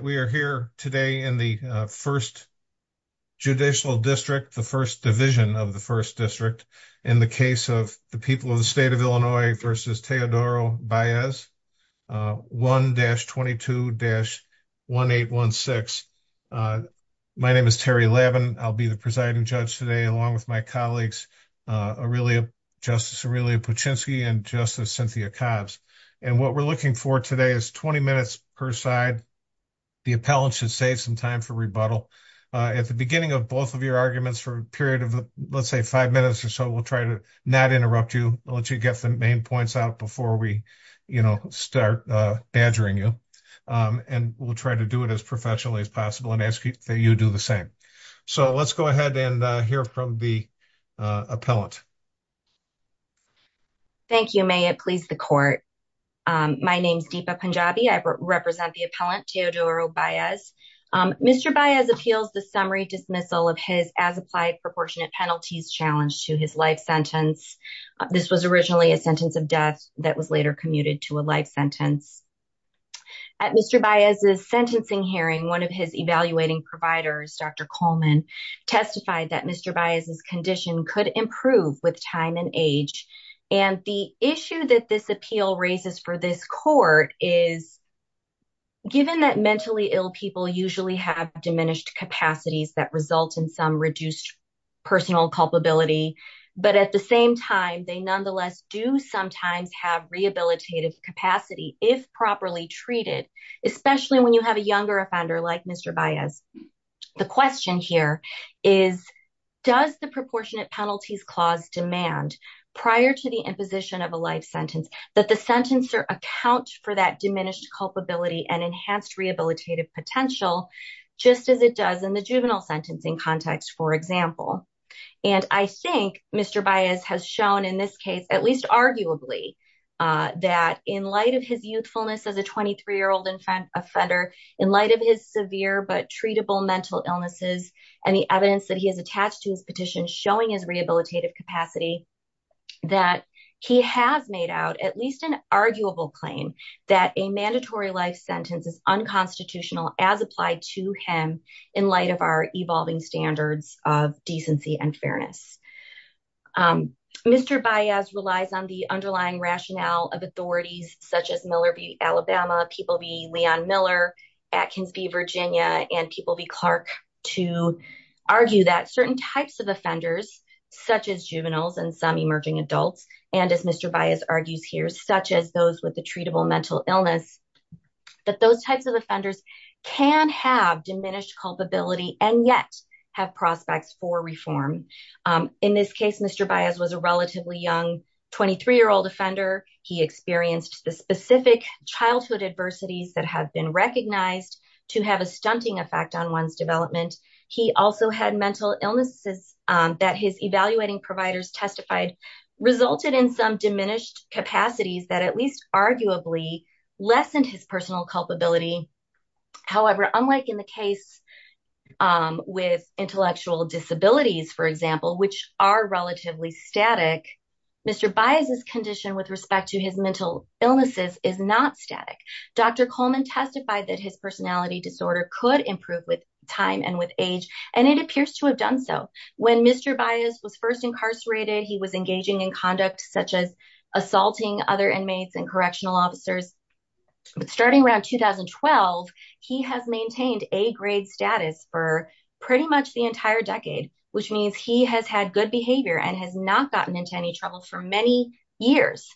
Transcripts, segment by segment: I'm so glad that we are here today in the first judicial district, the first division of the first district. In the case of the people of the state of Illinois versus Teodoro Baez, 1-22-1816. My name is Terry Lavin, I'll be the presiding judge today along with my colleagues, Justice Aurelia Paczynski and Justice Cynthia Cobbs. And what we're looking for today is 20 minutes per side. The appellant should save some time for rebuttal. At the beginning of both of your arguments for a period of, let's say, five minutes or so, we'll try to not interrupt you. I'll let you get the main points out before we, you know, start badgering you. And we'll try to do it as professionally as possible and ask that you do the same. So let's go ahead and hear from the appellant. Thank you. May it please the court. My name is Deepa Punjabi. I represent the appellant Teodoro Baez. Mr. Baez appeals the summary dismissal of his as applied proportionate penalties challenge to his life sentence. This was originally a sentence of death that was later commuted to a life sentence. At Mr. Baez's sentencing hearing, one of his evaluating providers, Dr. Coleman, testified that Mr. Baez's condition could improve with time and age. And the issue that this appeal raises for this court is given that mentally ill people usually have diminished capacities that result in some reduced personal culpability. But at the same time, they nonetheless do sometimes have rehabilitative capacity if properly treated, especially when you have a younger offender like Mr. Baez. The question here is, does the proportionate penalties clause demand prior to the imposition of a life sentence that the sentencer account for that diminished culpability and enhanced rehabilitative potential, just as it does in the juvenile sentencing context, for example. And I think Mr. Baez has shown in this case, at least arguably, that in light of his youthfulness as a 23-year-old offender, in light of his severe but treatable mental illnesses and the evidence that he has attached to his petition showing his rehabilitative capacity, that he has made out at least an arguable claim that a mandatory life sentence is unconstitutional as applied to him in light of our evolving standards of decency. Mr. Baez relies on the underlying rationale of authorities such as Miller v. Alabama, people v. Leon Miller, Atkins v. Virginia, and people v. Clark to argue that certain types of offenders, such as juveniles and some emerging adults, and as Mr. Baez argues here, such as those with a treatable mental illness, that those types of offenders can have diminished culpability and yet have prospects for reform. In this case, Mr. Baez was a relatively young 23-year-old offender. He experienced the specific childhood adversities that have been recognized to have a stunting effect on one's development. He also had mental illnesses that his evaluating providers testified resulted in some diminished capacities that at least arguably lessened his personal culpability. However, unlike in the case with intellectual disabilities, for example, which are relatively static, Mr. Baez's condition with respect to his mental illnesses is not static. Dr. Coleman testified that his personality disorder could improve with time and with age, and it appears to have done so. When Mr. Baez was first incarcerated, he was engaging in conduct such as assaulting other inmates and correctional officers. But starting around 2012, he has maintained A-grade status for pretty much the entire decade, which means he has had good behavior and has not gotten into any trouble for many years.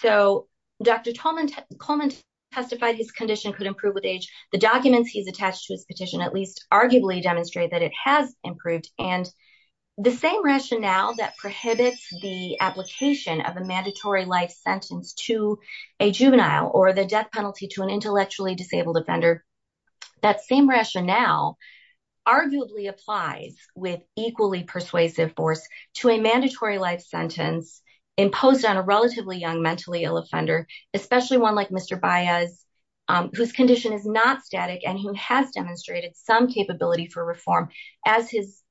So Dr. Coleman testified his condition could improve with age. The documents he's attached to his petition at least arguably demonstrate that it has improved. And the same rationale that prohibits the application of a mandatory life sentence to a juvenile or the death penalty to an intellectually disabled offender, that same rationale arguably applies with equally persuasive force to a mandatory life sentence imposed on a relatively young, mentally ill offender, especially one like Mr. Baez, whose condition is not static and who has demonstrated some capability for reform, as his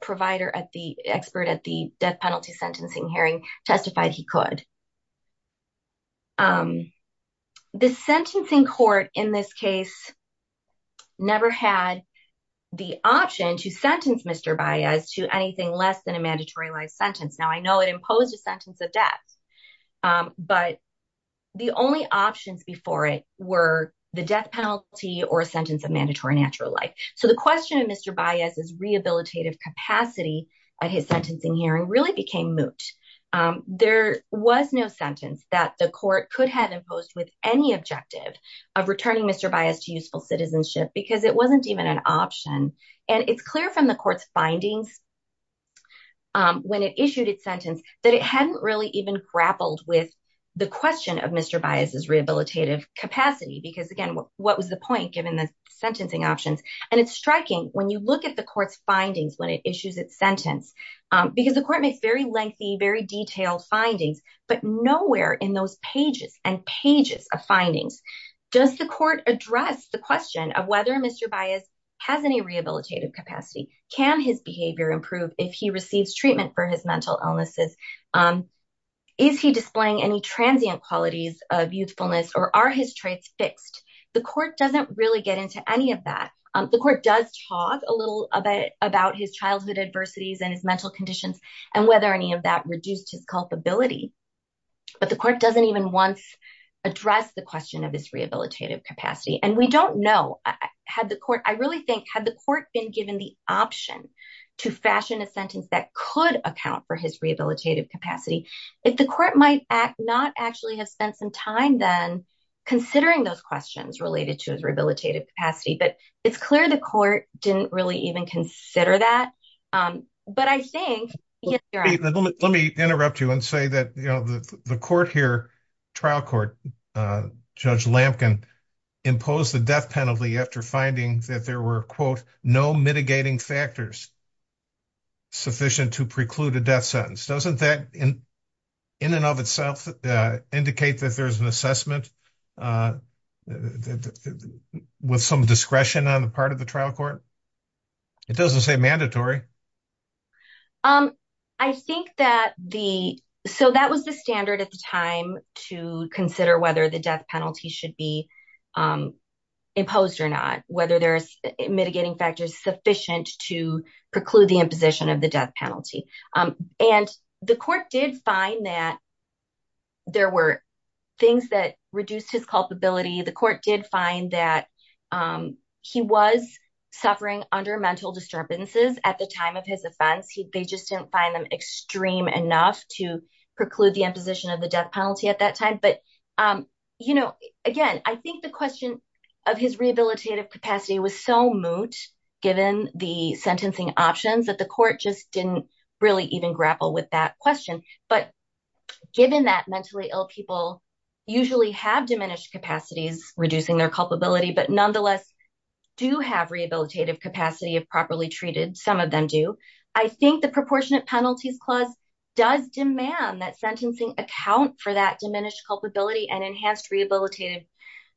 provider at the expert at the death penalty sentencing hearing testified he could. The sentencing court in this case never had the option to sentence Mr. Baez to anything less than a mandatory life sentence. Now, I know it imposed a sentence of death, but the only options before it were the death penalty or a sentence of mandatory natural life. So the question of Mr. Baez's rehabilitative capacity at his sentencing hearing really became moot. There was no sentence that the court could have imposed with any objective of returning Mr. Baez to useful citizenship because it wasn't even an option. And it's clear from the court's findings when it issued its sentence that it hadn't really even grappled with the question of Mr. Baez's rehabilitative capacity, because, again, what was the point given the sentencing options? And it's striking when you look at the court's findings when it issues its sentence, because the court makes very lengthy, very detailed findings. But nowhere in those pages and pages of findings does the court address the question of whether Mr. Baez has any rehabilitative capacity? Can his behavior improve if he receives treatment for his mental illnesses? Is he displaying any transient qualities of youthfulness or are his traits fixed? The court doesn't really get into any of that. The court does talk a little bit about his childhood adversities and his mental conditions and whether any of that reduced his culpability. But the court doesn't even once address the question of his rehabilitative capacity. And we don't know had the court I really think had the court been given the option to fashion a sentence that could account for his rehabilitative capacity. If the court might not actually have spent some time then considering those questions related to his rehabilitative capacity. But it's clear the court didn't really even consider that. But I think. Let me interrupt you and say that the court here, trial court, Judge Lampkin, imposed the death penalty after finding that there were, quote, no mitigating factors sufficient to preclude a death sentence. Doesn't that in and of itself indicate that there's an assessment with some discretion on the part of the trial court? It doesn't say mandatory. I think that the so that was the standard at the time to consider whether the death penalty should be imposed or not, whether there's mitigating factors sufficient to preclude the imposition of the death penalty. And the court did find that. There were things that reduced his culpability. The court did find that he was suffering under mental disturbances at the time of his offense. They just didn't find them extreme enough to preclude the imposition of the death penalty at that time. But, you know, again, I think the question of his rehabilitative capacity was so moot, given the sentencing options that the court just didn't really even grapple with that question. But given that mentally ill people usually have diminished capacities, reducing their culpability, but nonetheless do have rehabilitative capacity of properly treated. Some of them do. I think the proportionate penalties clause does demand that sentencing account for that diminished culpability and enhanced rehabilitative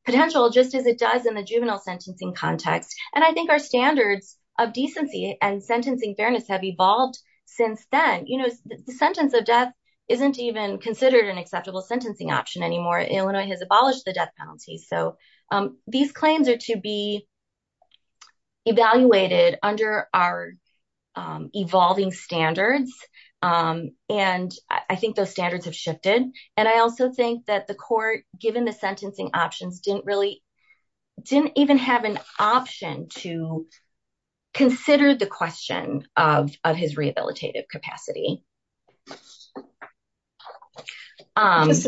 potential, just as it does in the juvenile sentencing context. And I think our standards of decency and sentencing fairness have evolved since then. You know, the sentence of death isn't even considered an acceptable sentencing option anymore. Illinois has abolished the death penalty. So these claims are to be evaluated under our evolving standards. And I think those standards have shifted. And I also think that the court, given the sentencing options, didn't really didn't even have an option to consider the question of his rehabilitative capacity. Just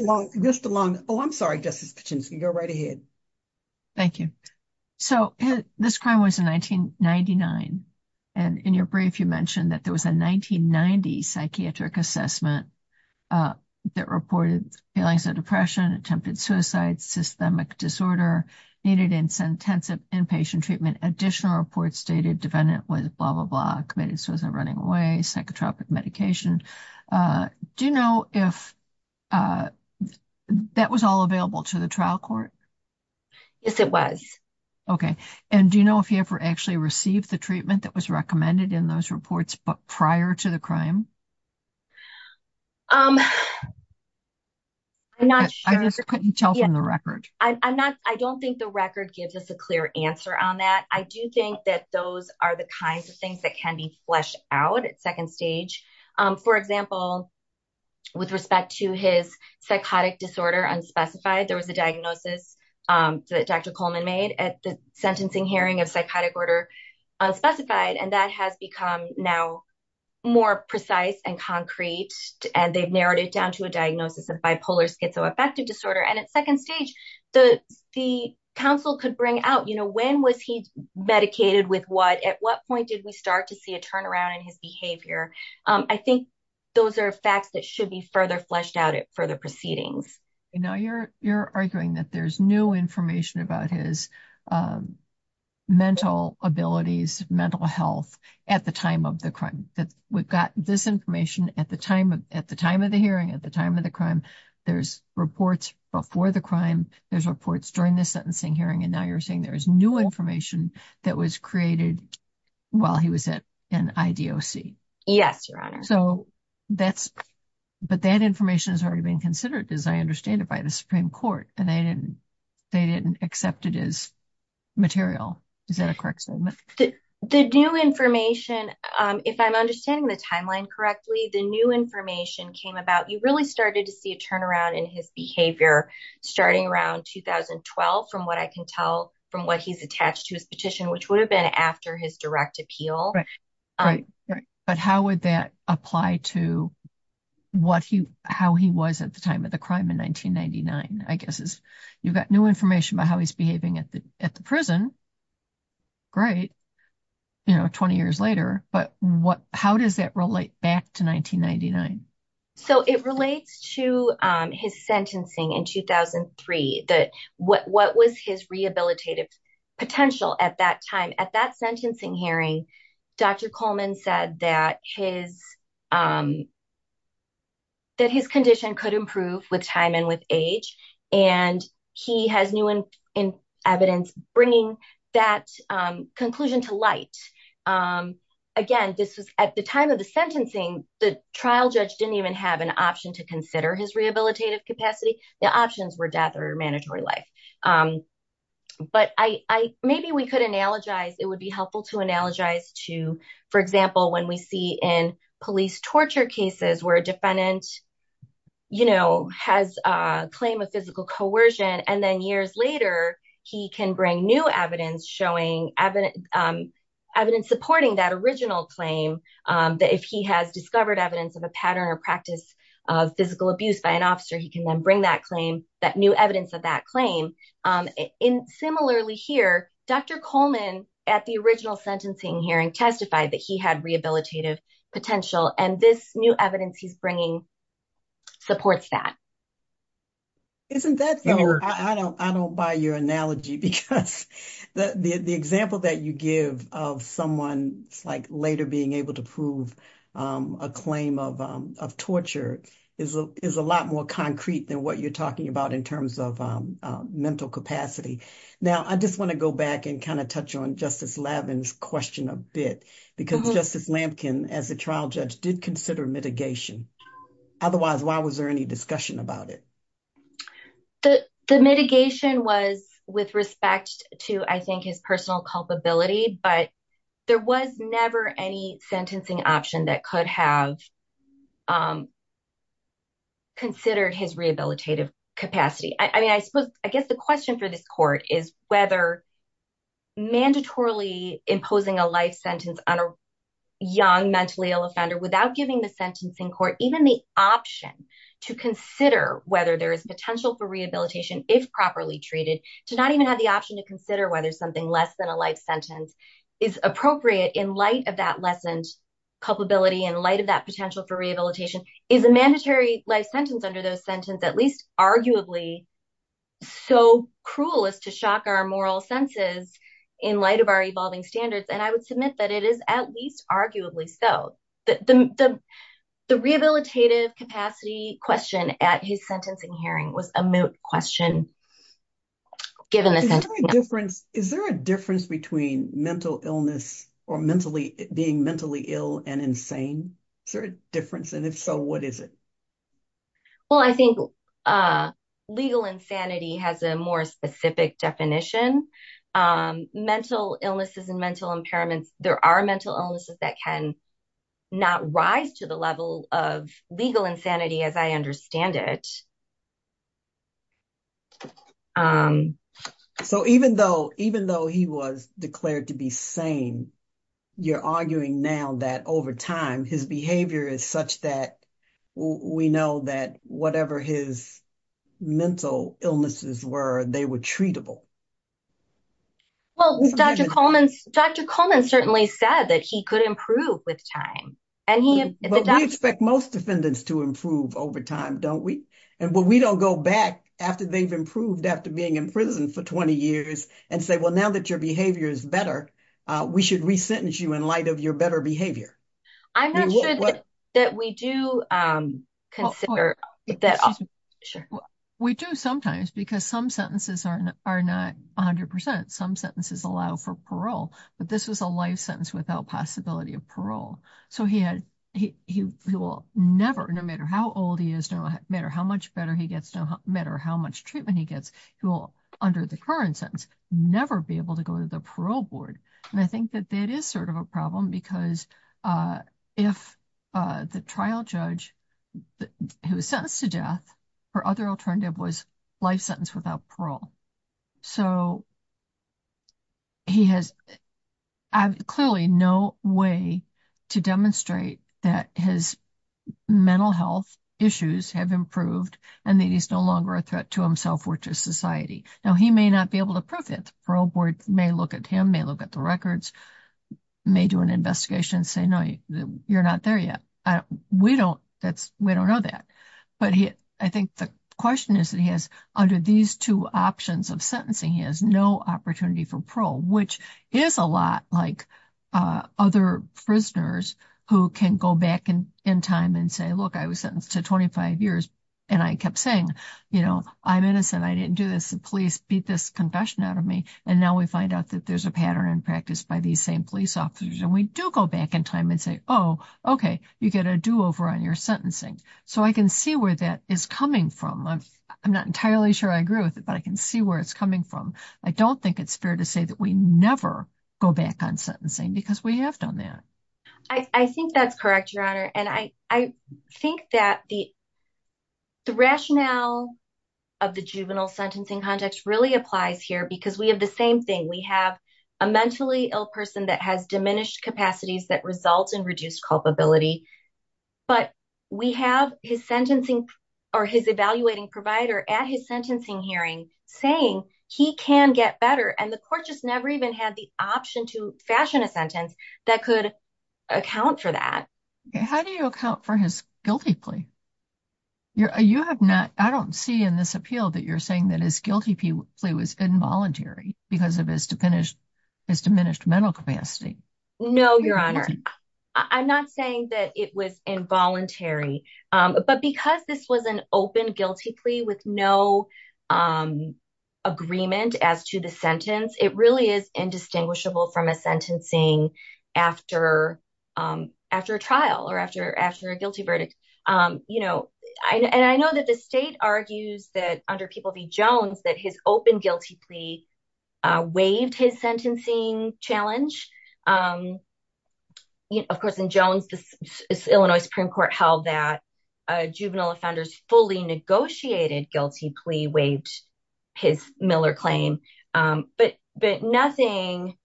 along. Oh, I'm sorry, Justice Kachinsky, go right ahead. Thank you. So this crime was in 1999. And in your brief, you mentioned that there was a 1990 psychiatric assessment that reported feelings of depression, attempted suicide, systemic disorder, needed intensive inpatient treatment. Additional reports stated defendant was blah, blah, blah, committed suicide, running away, psychotropic medication. Do you know if that was all available to the trial court? Yes, it was. Okay. And do you know if you ever actually received the treatment that was recommended in those reports prior to the crime? I just couldn't tell from the record. I don't think the record gives us a clear answer on that. I do think that those are the kinds of things that can be fleshed out at second stage. For example, with respect to his psychotic disorder unspecified, there was a diagnosis that Dr. Coleman made at the sentencing hearing of psychotic order unspecified. And that has become now more precise and concrete, and they've narrowed it down to a diagnosis of bipolar schizoaffective disorder. And at second stage, the counsel could bring out, you know, when was he medicated with what? At what point did we start to see a turnaround in his behavior? I think those are facts that should be further fleshed out at further proceedings. Now you're arguing that there's new information about his mental abilities, mental health at the time of the crime. We've got this information at the time of the hearing, at the time of the crime. There's reports before the crime. There's reports during the sentencing hearing. And now you're saying there is new information that was created while he was at an IDOC. Yes, Your Honor. But that information has already been considered, as I understand it, by the Supreme Court, and they didn't accept it as material. Is that a correct statement? The new information, if I'm understanding the timeline correctly, the new information came about, you really started to see a turnaround in his behavior starting around 2012, from what I can tell from what he's attached to his petition, which would have been after his direct appeal. But how would that apply to how he was at the time of the crime in 1999? I guess you've got new information about how he's behaving at the prison. Great. You know, 20 years later. But how does that relate back to 1999? So it relates to his sentencing in 2003. What was his rehabilitative potential at that time? At that sentencing hearing, Dr. Coleman said that his condition could improve with time and with age, and he has new evidence bringing that conclusion to light. Again, this was at the time of the sentencing. The trial judge didn't even have an option to consider his rehabilitative capacity. The options were death or mandatory life. But maybe we could analogize, it would be helpful to analogize to, for example, when we see in police torture cases where a defendant, you know, has a claim of physical coercion. And then years later, he can bring new evidence showing evidence supporting that original claim that if he has discovered evidence of a pattern or practice of physical abuse by an officer, he can then bring that claim, that new evidence of that claim. Similarly here, Dr. Coleman at the original sentencing hearing testified that he had rehabilitative potential and this new evidence he's bringing supports that. Isn't that, I don't buy your analogy because the example that you give of someone like later being able to prove a claim of torture is a lot more concrete than what you're talking about in terms of mental capacity. Now, I just want to go back and kind of touch on Justice Lavin's question a bit, because Justice Lampkin as a trial judge did consider mitigation. Otherwise, why was there any discussion about it? The mitigation was with respect to, I think, his personal culpability, but there was never any sentencing option that could have considered his rehabilitative capacity. I mean, I suppose, I guess the question for this court is whether mandatorily imposing a life sentence on a young mentally ill offender without giving the sentencing court even the option to consider whether there is potential for rehabilitation if properly treated, to not even have the option to consider whether something less than a life sentence is appropriate in light of that lessened culpability, in light of that potential for rehabilitation. Is a mandatory life sentence under those sentences at least arguably so cruel as to shock our moral senses in light of our evolving standards? And I would submit that it is at least arguably so. The rehabilitative capacity question at his sentencing hearing was a moot question, given the sentencing. Is there a difference between mental illness or being mentally ill and insane? Is there a difference? And if so, what is it? Well, I think legal insanity has a more specific definition. Mental illnesses and mental impairments, there are mental illnesses that can not rise to the level of legal insanity as I understand it. So even though he was declared to be sane, you're arguing now that over time, his behavior is such that we know that whatever his mental illnesses were, they were treatable. Well, Dr. Coleman certainly said that he could improve with time. We expect most defendants to improve over time, don't we? And we don't go back after they've improved after being in prison for 20 years and say, well, now that your behavior is better, we should re-sentence you in light of your better behavior. I'm not sure that we do consider that. We do sometimes because some sentences are not 100%. Some sentences allow for parole, but this was a life sentence without possibility of parole. So he will never, no matter how old he is, no matter how much better he gets, no matter how much treatment he gets, he will, under the current sentence, never be able to go to the parole board. And I think that that is sort of a problem because if the trial judge who was sentenced to death, her other alternative was life sentence without parole. So he has clearly no way to demonstrate that his mental health issues have improved and that he's no longer a threat to himself or to society. Now, he may not be able to prove it. The parole board may look at him, may look at the records, may do an investigation and say, no, you're not there yet. We don't know that. But I think the question is that he has, under these two options of sentencing, he has no opportunity for parole, which is a lot like other prisoners who can go back in time and say, look, I was sentenced to 25 years. And I kept saying, you know, I'm innocent. I didn't do this. The police beat this concussion out of me. And now we find out that there's a pattern in practice by these same police officers. And we do go back in time and say, oh, OK, you get a do over on your sentencing. So I can see where that is coming from. I'm not entirely sure I agree with it, but I can see where it's coming from. I don't think it's fair to say that we never go back on sentencing because we have done that. I think that's correct, Your Honor. And I think that the rationale of the juvenile sentencing context really applies here because we have the same thing. We have a mentally ill person that has diminished capacities that results in reduced culpability. But we have his sentencing or his evaluating provider at his sentencing hearing saying he can get better. And the court just never even had the option to fashion a sentence that could account for that. How do you account for his guilty plea? You have not. I don't see in this appeal that you're saying that his guilty plea was involuntary because of his diminished mental capacity. No, Your Honor. I'm not saying that it was involuntary, but because this was an open guilty plea with no agreement as to the sentence, it really is indistinguishable from a sentencing after after a trial or after after a guilty verdict. And I know that the state argues that under People v. Jones that his open guilty plea waived his sentencing challenge. Of course, in Jones, the Illinois Supreme Court held that a juvenile offender's fully negotiated guilty plea waived his Miller claim. But nothing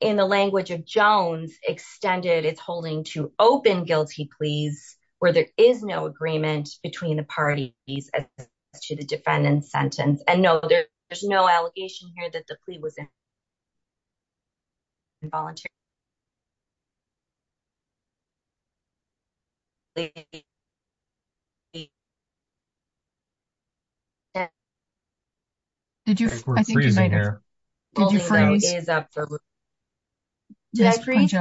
in the language of Jones extended its holding to open guilty pleas where there is no agreement between the parties as to the defendant's sentence. And no, there's no allegation here that the plea was involuntary. I think we're freezing here. Did you freeze? Did I freeze?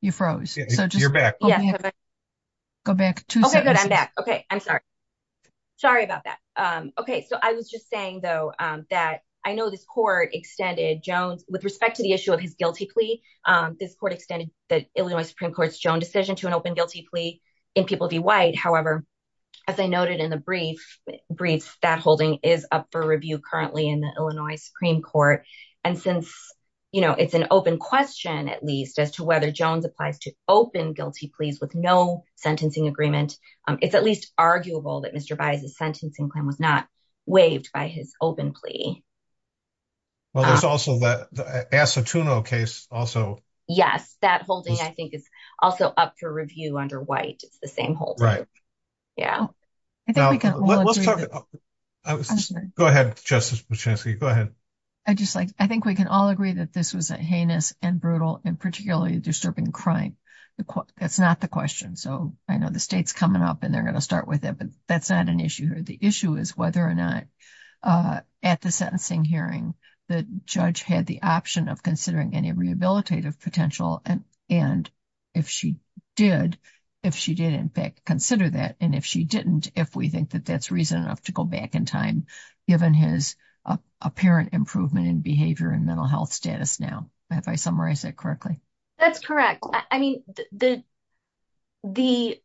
You froze. You're back. Go back two seconds. OK, good. I'm back. OK, I'm sorry. Sorry about that. OK, so I was just saying, though, that I know this court extended Jones with respect to the issue of his guilty plea. This court extended the Illinois Supreme Court's Jones decision to an open guilty plea in People v. White. However, as I noted in the brief brief, that holding is up for review currently in the Illinois Supreme Court. And since, you know, it's an open question, at least as to whether Jones applies to open guilty pleas with no sentencing agreement. It's at least arguable that Mr. Byers' sentencing plan was not waived by his open plea. Well, there's also the Asatuno case also. Yes, that holding, I think, is also up for review under White. It's the same hold. Right. Yeah, I think we can. Go ahead, Justice. Go ahead. I just like I think we can all agree that this was a heinous and brutal and particularly disturbing crime. That's not the question. So I know the state's coming up and they're going to start with it, but that's not an issue here. The issue is whether or not at the sentencing hearing, the judge had the option of considering any rehabilitative potential. And if she did, if she did, in fact, consider that. And if she didn't, if we think that that's reason enough to go back in time, given his apparent improvement in behavior and mental health status. Now, if I summarize it correctly, that's correct. I mean, the the.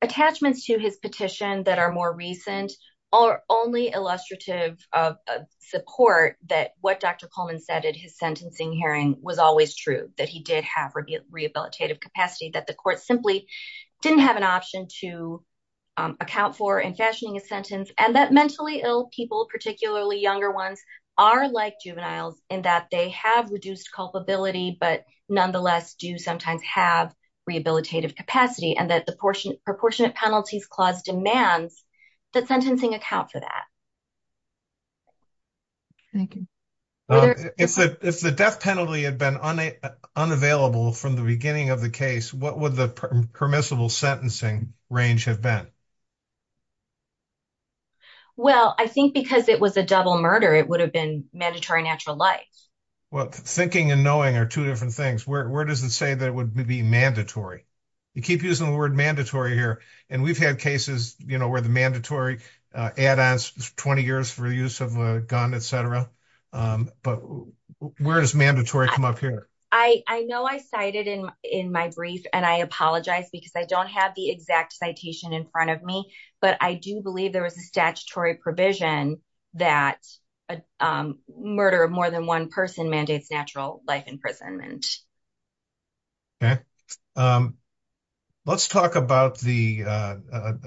Attachments to his petition that are more recent are only illustrative of support that what Dr. Coleman said at his sentencing hearing was always true, that he did have rehabilitative capacity, that the court simply didn't have an option to account for and fashioning a sentence and that mentally ill people, particularly younger ones, are like juveniles in that they have reduced culpability, but nonetheless do sometimes have rehabilitative capacity and that the portion proportionate penalties clause demands that sentencing account for that. Thank you. If the death penalty had been unavailable from the beginning of the case, what would the permissible sentencing range have been? Well, I think because it was a double murder, it would have been mandatory natural life. Well, thinking and knowing are two different things. Where does it say that would be mandatory? You keep using the word mandatory here. And we've had cases where the mandatory add on 20 years for use of a gun, et cetera. But where does mandatory come up here? I know I cited in in my brief and I apologize because I don't have the exact citation in front of me. But I do believe there was a statutory provision that a murder of more than one person mandates natural life imprisonment. OK. Let's talk about the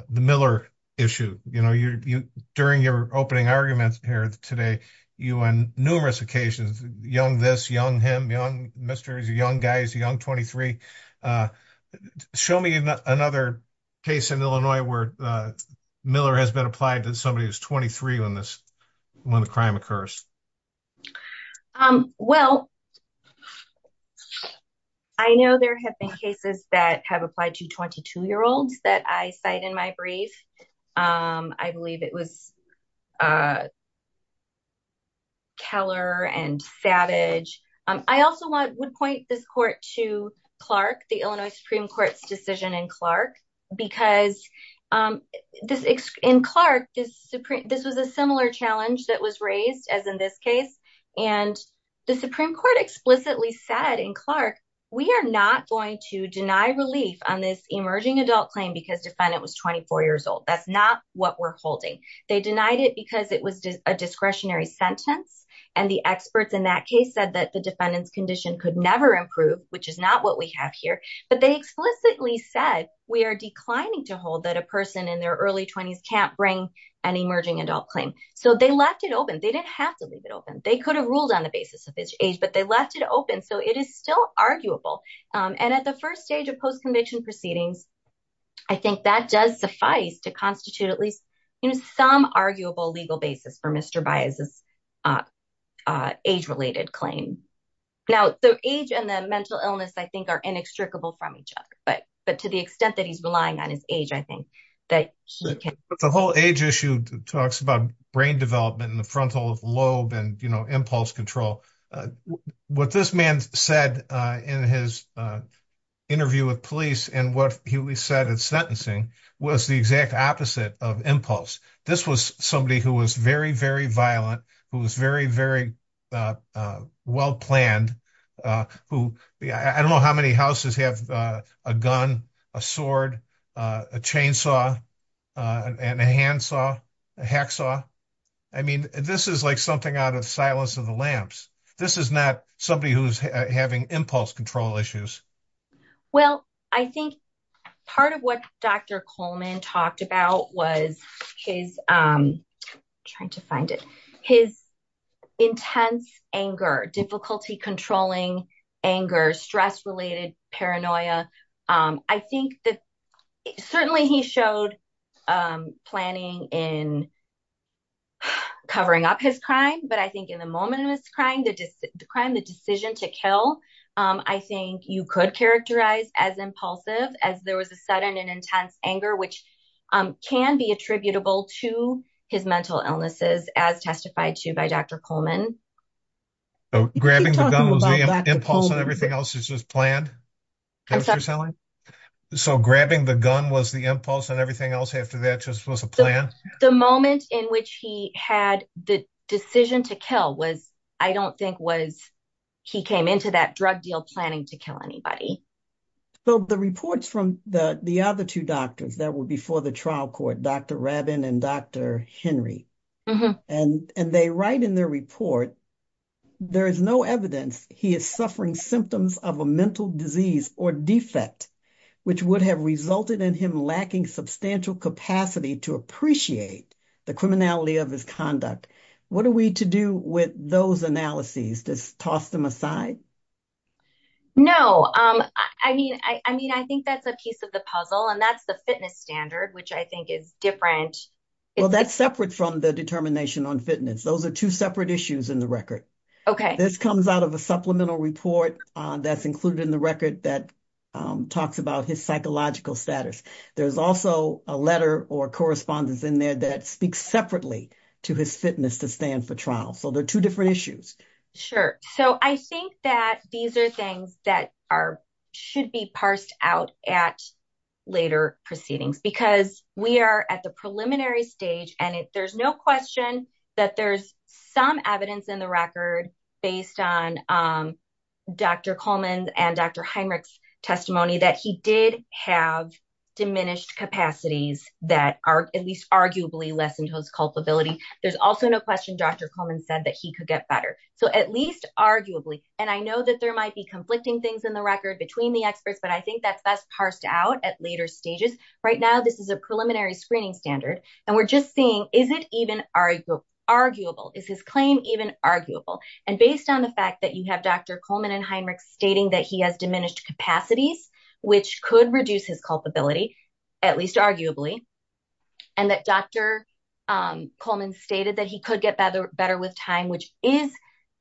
Miller issue. You know, you during your opening arguments here today, you on numerous occasions, young this young him, young Mr. Young guys, young 23. Show me another case in Illinois where Miller has been applied to somebody who's 23 on this. When the crime occurs. Well, I know there have been cases that have applied to 22 year olds that I cite in my brief. I believe it was. Keller and Savage. I also would point this court to Clark, the Illinois Supreme Court's decision in Clark, because this in Clark is Supreme. This was a similar challenge that was raised as in this case. And the Supreme Court explicitly said in Clark, we are not going to deny relief on this emerging adult claim because defendant was 24 years old. That's not what we're holding. They denied it because it was a discretionary sentence. And the experts in that case said that the defendant's condition could never improve, which is not what we have here. But they explicitly said we are declining to hold that a person in their early 20s can't bring an emerging adult claim. So they left it open. They didn't have to leave it open. They could have ruled on the basis of age, but they left it open. So it is still arguable. And at the first stage of post-conviction proceedings, I think that does suffice to constitute at least some arguable legal basis for Mr. Bias's age related claim. Now, the age and the mental illness, I think, are inextricable from each other. But but to the extent that he's relying on his age, I think that the whole age issue talks about brain development in the frontal lobe and impulse control. What this man said in his interview with police and what he said in sentencing was the exact opposite of impulse. This was somebody who was very, very violent, who was very, very well planned, who I don't know how many houses have a gun, a sword, a chainsaw and a handsaw, a hacksaw. I mean, this is like something out of Silence of the Lambs. This is not somebody who's having impulse control issues. Well, I think part of what Dr. Coleman talked about was his trying to find it, his intense anger, difficulty controlling anger, stress related paranoia. I think that certainly he showed planning in covering up his crime. But I think in the moment of his crime, the crime, the decision to kill. I think you could characterize as impulsive as there was a sudden and intense anger, which can be attributable to his mental illnesses, as testified to by Dr. Coleman. Grabbing the gun was the impulse and everything else is just planned. So grabbing the gun was the impulse and everything else after that just was a plan. The moment in which he had the decision to kill was I don't think was he came into that drug deal planning to kill anybody. So the reports from the other two doctors that were before the trial court, Dr. Rabin and Dr. Henry, and they write in their report, there is no evidence he is suffering symptoms of a mental disease or defect, which would have resulted in him lacking substantial capacity to appreciate the criminality of his conduct. What are we to do with those analyses? Just toss them aside? No, I mean, I mean, I think that's a piece of the puzzle and that's the fitness standard, which I think is different. Well, that's separate from the determination on fitness. Those are two separate issues in the record. OK, this comes out of a supplemental report that's included in the record that talks about his psychological status. There's also a letter or correspondence in there that speaks separately to his fitness to stand for trial. So there are two different issues. Sure. So I think that these are things that are should be parsed out at later proceedings, because we are at the preliminary stage and there's no question that there's some evidence in the record based on Dr. Coleman and Dr. Heinrich's testimony that he did have diminished capacities that are at least arguably lessened his culpability. There's also no question Dr. Coleman said that he could get better. So at least arguably. And I know that there might be conflicting things in the record between the experts, but I think that's best parsed out at later stages. Right now, this is a preliminary screening standard. And we're just seeing, is it even arguable? Is his claim even arguable? And based on the fact that you have Dr. Coleman and Heinrich stating that he has diminished capacities, which could reduce his culpability, at least arguably, and that Dr. Coleman stated that he could get better with time, which is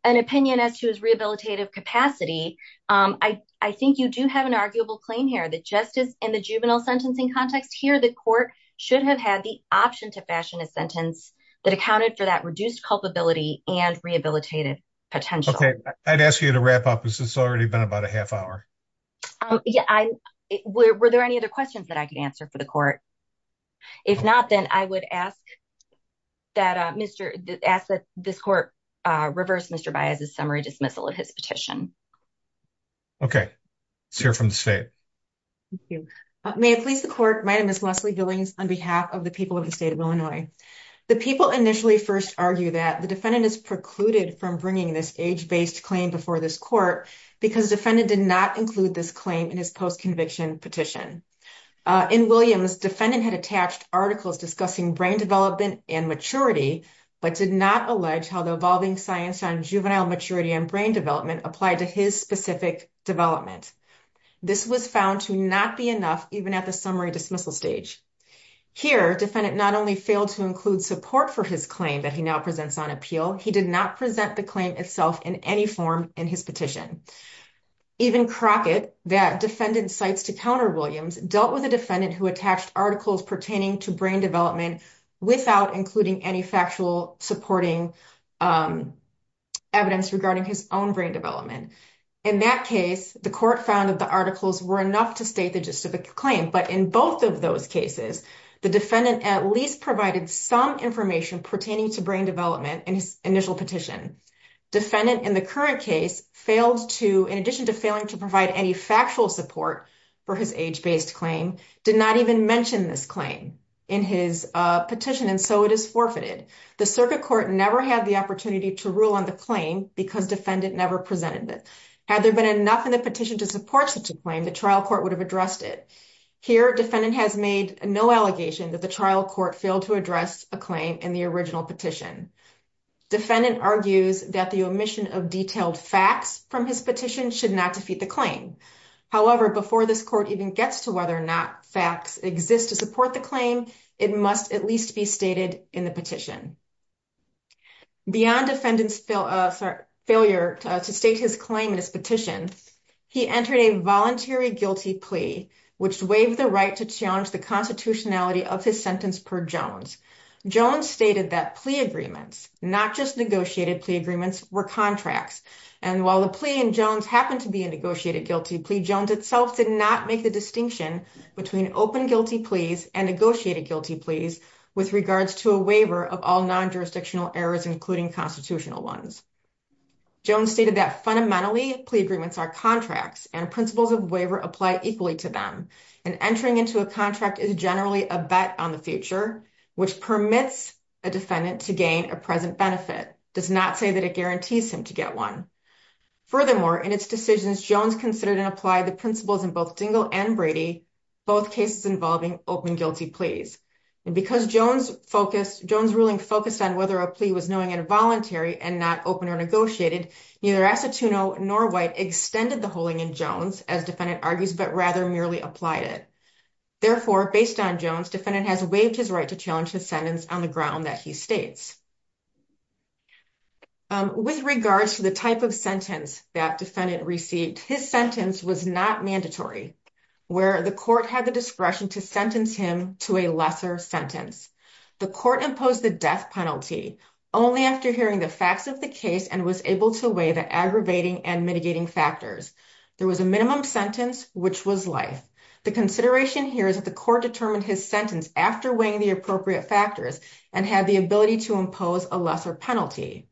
an opinion as to his rehabilitative capacity. I think you do have an arguable claim here that justice and the juvenile sentencing context here, the court should have had the option to fashion a sentence that accounted for that reduced culpability and rehabilitative potential. I'd ask you to wrap up because it's already been about a half hour. Yeah. Were there any other questions that I could answer for the court? If not, then I would ask that Mr. Ask that this court reverse Mr. Baez's summary dismissal of his petition. OK, let's hear from the state. May it please the court. My name is Leslie Billings on behalf of the people of the state of Illinois. The people initially first argue that the defendant is precluded from bringing this age based claim before this court because defendant did not include this claim in his post conviction petition. In Williams, defendant had attached articles discussing brain development and maturity, but did not allege how the evolving science on juvenile maturity and brain development applied to his specific development. This was found to not be enough, even at the summary dismissal stage. Here, defendant not only failed to include support for his claim that he now presents on appeal, he did not present the claim itself in any form in his petition. Even Crockett, that defendant cites to counter Williams, dealt with a defendant who attached articles pertaining to brain development without including any factual supporting evidence regarding his own brain development. In that case, the court found that the articles were enough to state the gist of the claim. But in both of those cases, the defendant at least provided some information pertaining to brain development in his initial petition. Defendant in the current case failed to, in addition to failing to provide any factual support for his age based claim, did not even mention this claim in his petition, and so it is forfeited. The circuit court never had the opportunity to rule on the claim because defendant never presented it. Had there been enough in the petition to support such a claim, the trial court would have addressed it. Here, defendant has made no allegation that the trial court failed to address a claim in the original petition. Defendant argues that the omission of detailed facts from his petition should not defeat the claim. However, before this court even gets to whether or not facts exist to support the claim, it must at least be stated in the petition. Beyond defendant's failure to state his claim in his petition, he entered a voluntary guilty plea, which waived the right to challenge the constitutionality of his sentence per Jones. Jones stated that plea agreements, not just negotiated plea agreements, were contracts. And while the plea in Jones happened to be a negotiated guilty plea, Jones itself did not make the distinction between open guilty pleas and negotiated guilty pleas with regards to a waiver of all non-jurisdictional errors, including constitutional ones. Jones stated that fundamentally, plea agreements are contracts and principles of waiver apply equally to them. And entering into a contract is generally a bet on the future, which permits a defendant to gain a present benefit, does not say that it guarantees him to get one. Furthermore, in its decisions, Jones considered and applied the principles in both Dingell and Brady, both cases involving open guilty pleas. And because Jones' ruling focused on whether a plea was knowing and voluntary and not open or negotiated, neither Acetuna nor White extended the holding in Jones, as defendant argues, but rather merely applied it. Therefore, based on Jones, defendant has waived his right to challenge his sentence on the ground that he states. With regards to the type of sentence that defendant received, his sentence was not mandatory, where the court had the discretion to sentence him to a lesser sentence. The court imposed the death penalty only after hearing the facts of the case and was able to weigh the aggravating and mitigating factors. There was a minimum sentence, which was life. The consideration here is that the court determined his sentence after weighing the appropriate factors and had the ability to impose a lesser penalty.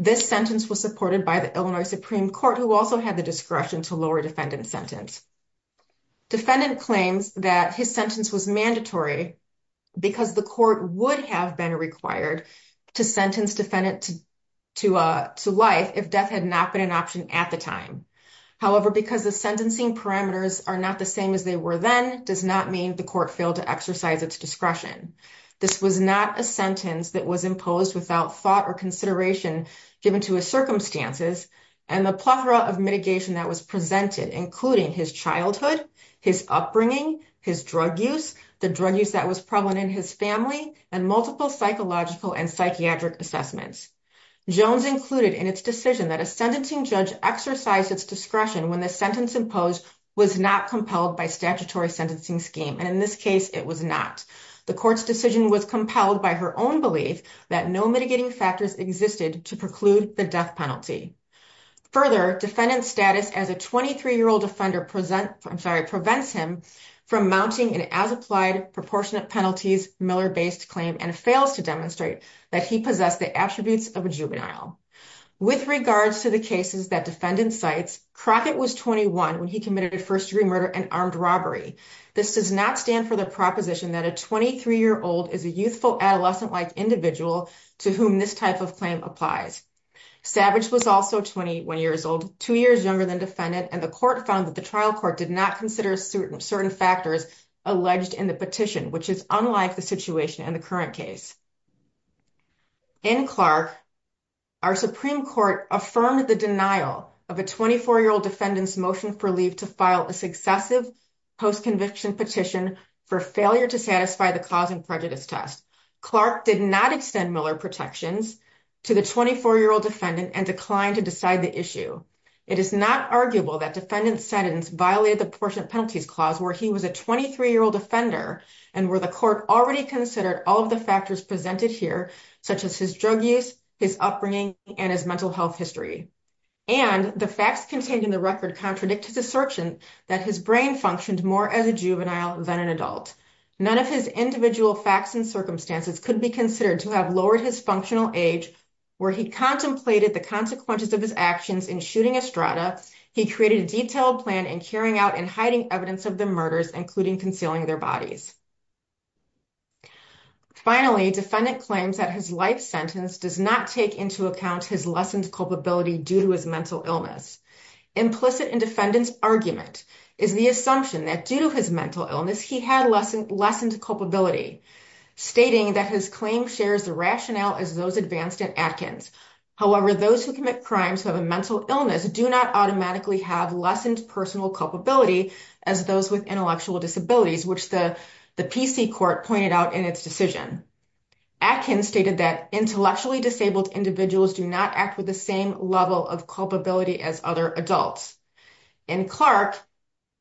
This sentence was supported by the Illinois Supreme Court, who also had the discretion to lower defendant sentence. Defendant claims that his sentence was mandatory because the court would have been required to sentence defendant to life if death had not been an option at the time. However, because the sentencing parameters are not the same as they were then, does not mean the court failed to exercise its discretion. This was not a sentence that was imposed without thought or consideration given to his circumstances and the plethora of mitigation that was presented, including his childhood, his upbringing, his drug use, the drug use that was prevalent in his family, and multiple psychological and psychiatric assessments. Jones included in its decision that a sentencing judge exercised its discretion when the sentence imposed was not compelled by statutory sentencing scheme. And in this case, it was not. The court's decision was compelled by her own belief that no mitigating factors existed to preclude the death penalty. Further, defendant status as a 23-year-old offender prevents him from mounting an as-applied proportionate penalties Miller-based claim and fails to demonstrate that he possessed the attributes of a juvenile. With regards to the cases that defendant cites, Crockett was 21 when he committed first-degree murder and armed robbery. This does not stand for the proposition that a 23-year-old is a youthful adolescent-like individual to whom this type of claim applies. Savage was also 21 years old, two years younger than defendant, and the court found that the trial court did not consider certain factors alleged in the petition, which is unlike the situation in the current case. In Clark, our Supreme Court affirmed the denial of a 24-year-old defendant's motion for leave to file a successive post-conviction petition for failure to satisfy the cause and prejudice test. Clark did not extend Miller protections to the 24-year-old defendant and declined to decide the issue. It is not arguable that defendant sentence violated the proportionate penalties clause where he was a 23-year-old offender and where the court already considered all of the factors presented here, such as his drug use, his upbringing, and his mental health history. And the facts contained in the record contradict his assertion that his brain functioned more as a juvenile than an adult. None of his individual facts and circumstances could be considered to have lowered his functional age where he contemplated the consequences of his actions in shooting Estrada. He created a detailed plan in carrying out and hiding evidence of the murders, including concealing their bodies. Finally, defendant claims that his life sentence does not take into account his lessened culpability due to his mental illness. Implicit in defendant's argument is the assumption that due to his mental illness, he had lessened culpability, stating that his claim shares the rationale as those advanced at Atkins. However, those who commit crimes who have a mental illness do not automatically have lessened personal culpability as those with intellectual disabilities, which the PC court pointed out in its decision. Atkins stated that intellectually disabled individuals do not act with the same level of culpability as other adults. In Clark,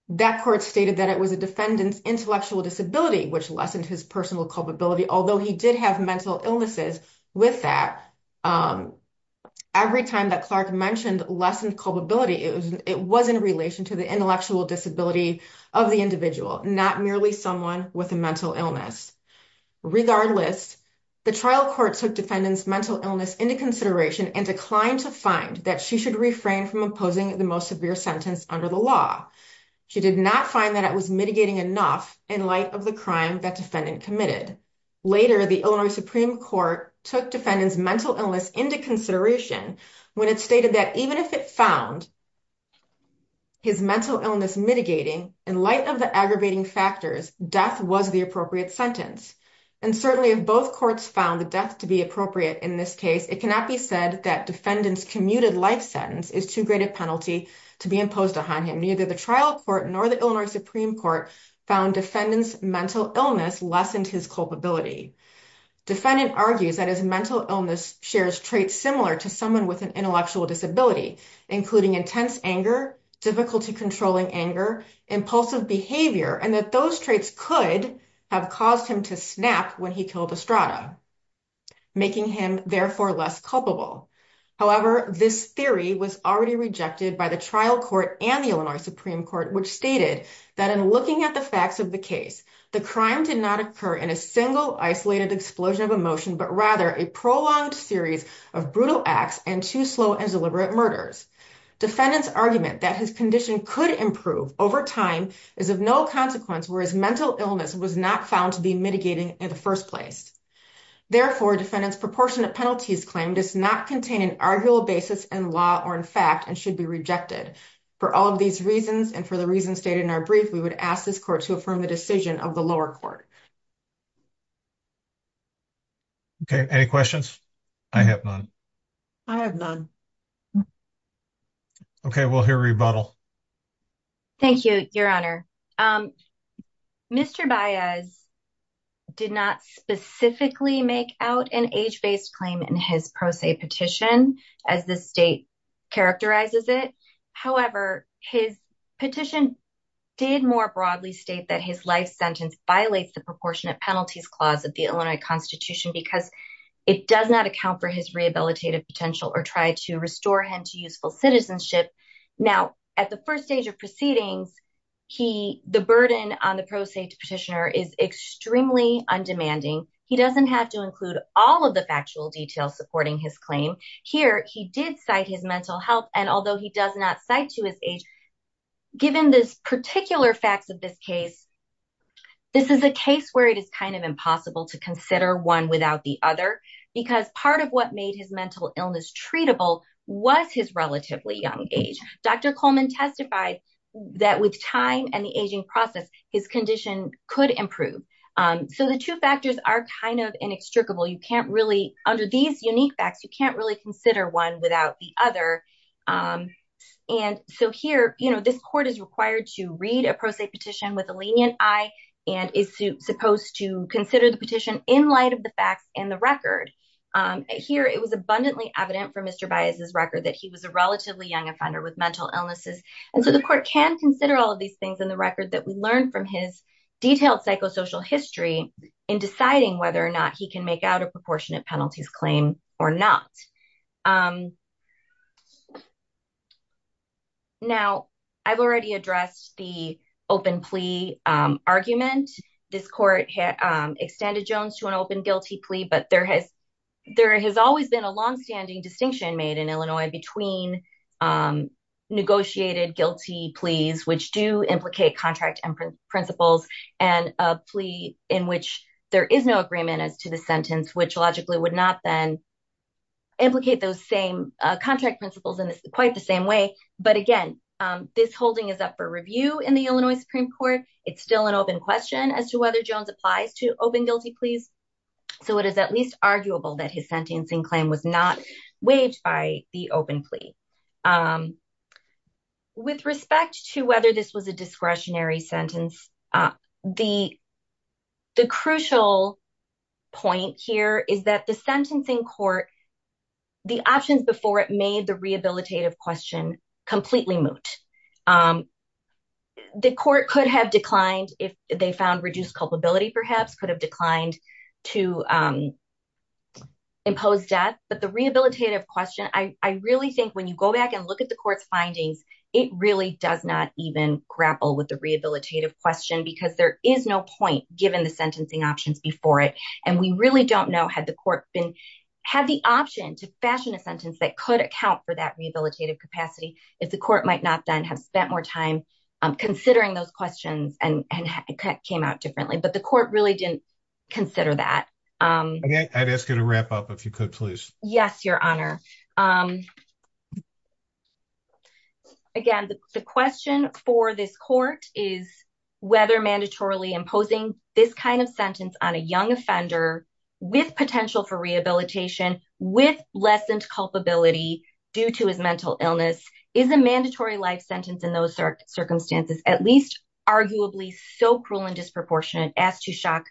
that court stated that it was a defendant's intellectual disability which lessened his personal culpability, although he did have mental illnesses with that. Every time that Clark mentioned lessened culpability, it was in relation to the intellectual disability of the individual, not merely someone with a mental illness. Regardless, the trial court took defendant's mental illness into consideration and declined to find that she should refrain from opposing the most severe sentence under the law. She did not find that it was mitigating enough in light of the crime that defendant committed. Later, the Illinois Supreme Court took defendant's mental illness into consideration when it stated that even if it found his mental illness mitigating, in light of the aggravating factors, death was the appropriate sentence. Certainly, if both courts found the death to be appropriate in this case, it cannot be said that defendant's commuted life sentence is too great a penalty to be imposed on him. Neither the trial court nor the Illinois Supreme Court found defendant's mental illness lessened his culpability. Defendant argues that his mental illness shares traits similar to someone with an intellectual disability, including intense anger, difficulty controlling anger, impulsive behavior, and that those traits could have caused him to snap when he killed Estrada, making him therefore less culpable. However, this theory was already rejected by the trial court and the Illinois Supreme Court, which stated that in looking at the facts of the case, the crime did not occur in a single isolated explosion of emotion, but rather a prolonged series of brutal acts and too slow and deliberate murders. Defendant's argument that his condition could improve over time is of no consequence, whereas mental illness was not found to be mitigating in the first place. Therefore, defendant's proportionate penalties claim does not contain an arguable basis in law or in fact, and should be rejected. For all of these reasons, and for the reasons stated in our brief, we would ask this court to affirm the decision of the lower court. Okay, any questions? I have none. I have none. Okay, we'll hear rebuttal. Thank you, Your Honor. Mr. Baez did not specifically make out an age-based claim in his pro se petition, as the state characterizes it. However, his petition did more broadly state that his life sentence violates the proportionate penalties clause of the Illinois Constitution because it does not account for his rehabilitative potential or try to restore him to useful citizenship. Now, at the first stage of proceedings, the burden on the pro se petitioner is extremely undemanding. He doesn't have to include all of the factual details supporting his claim. Here, he did cite his mental health, and although he does not cite to his age, given this particular facts of this case, this is a case where it is kind of impossible to consider one without the other. Because part of what made his mental illness treatable was his relatively young age. Dr. Coleman testified that with time and the aging process, his condition could improve. So the two factors are kind of inextricable. You can't really, under these unique facts, you can't really consider one without the other. And so here, you know, this court is required to read a pro se petition with a lenient eye and is supposed to consider the petition in light of the facts and the record. Here, it was abundantly evident from Mr. Baez's record that he was a relatively young offender with mental illnesses. And so the court can consider all of these things in the record that we learned from his detailed psychosocial history in deciding whether or not he can make out a proportionate penalties claim or not. Now, I've already addressed the open plea argument. This court extended Jones to an open guilty plea. But there has there has always been a longstanding distinction made in Illinois between negotiated guilty pleas, which do implicate contract and principles and a plea in which there is no agreement as to the sentence, which logically would not then implicate those same contract principles in quite the same way. But again, this holding is up for review in the Illinois Supreme Court. It's still an open question as to whether Jones applies to open guilty pleas. So it is at least arguable that his sentencing claim was not waived by the open plea. With respect to whether this was a discretionary sentence, the crucial point here is that the sentencing court, the options before it made the rehabilitative question completely moot. The court could have declined if they found reduced culpability, perhaps could have declined to impose death. But the rehabilitative question, I really think when you go back and look at the court's findings, it really does not even grapple with the rehabilitative question because there is no point given the sentencing options before it. And we really don't know had the court been had the option to fashion a sentence that could account for that rehabilitative capacity. If the court might not then have spent more time considering those questions and came out differently. But the court really didn't consider that. I'd ask you to wrap up if you could, please. Yes, Your Honor. Again, the question for this court is whether mandatorily imposing this kind of sentence on a young offender with potential for rehabilitation with lessened culpability due to his mental illness is a mandatory life sentence in those circumstances. At least arguably so cruel and disproportionate as to shock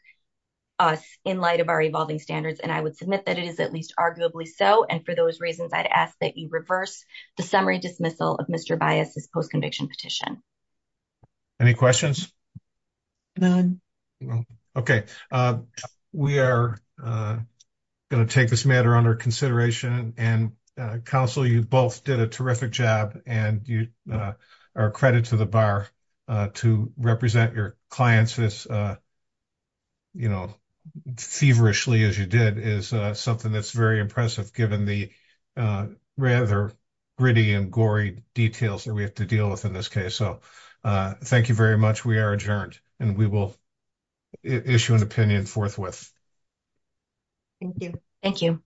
us in light of our evolving standards. And I would submit that it is at least arguably so. And for those reasons, I'd ask that you reverse the summary dismissal of Mr. Bias's post conviction petition. Any questions? None. Okay, we are going to take this matter under consideration and counsel. You both did a terrific job and you are credit to the bar to represent your clients. You know, feverishly as you did is something that's very impressive given the rather gritty and gory details that we have to deal with in this case. So thank you very much. We are adjourned and we will issue an opinion forthwith. Thank you. Thank you.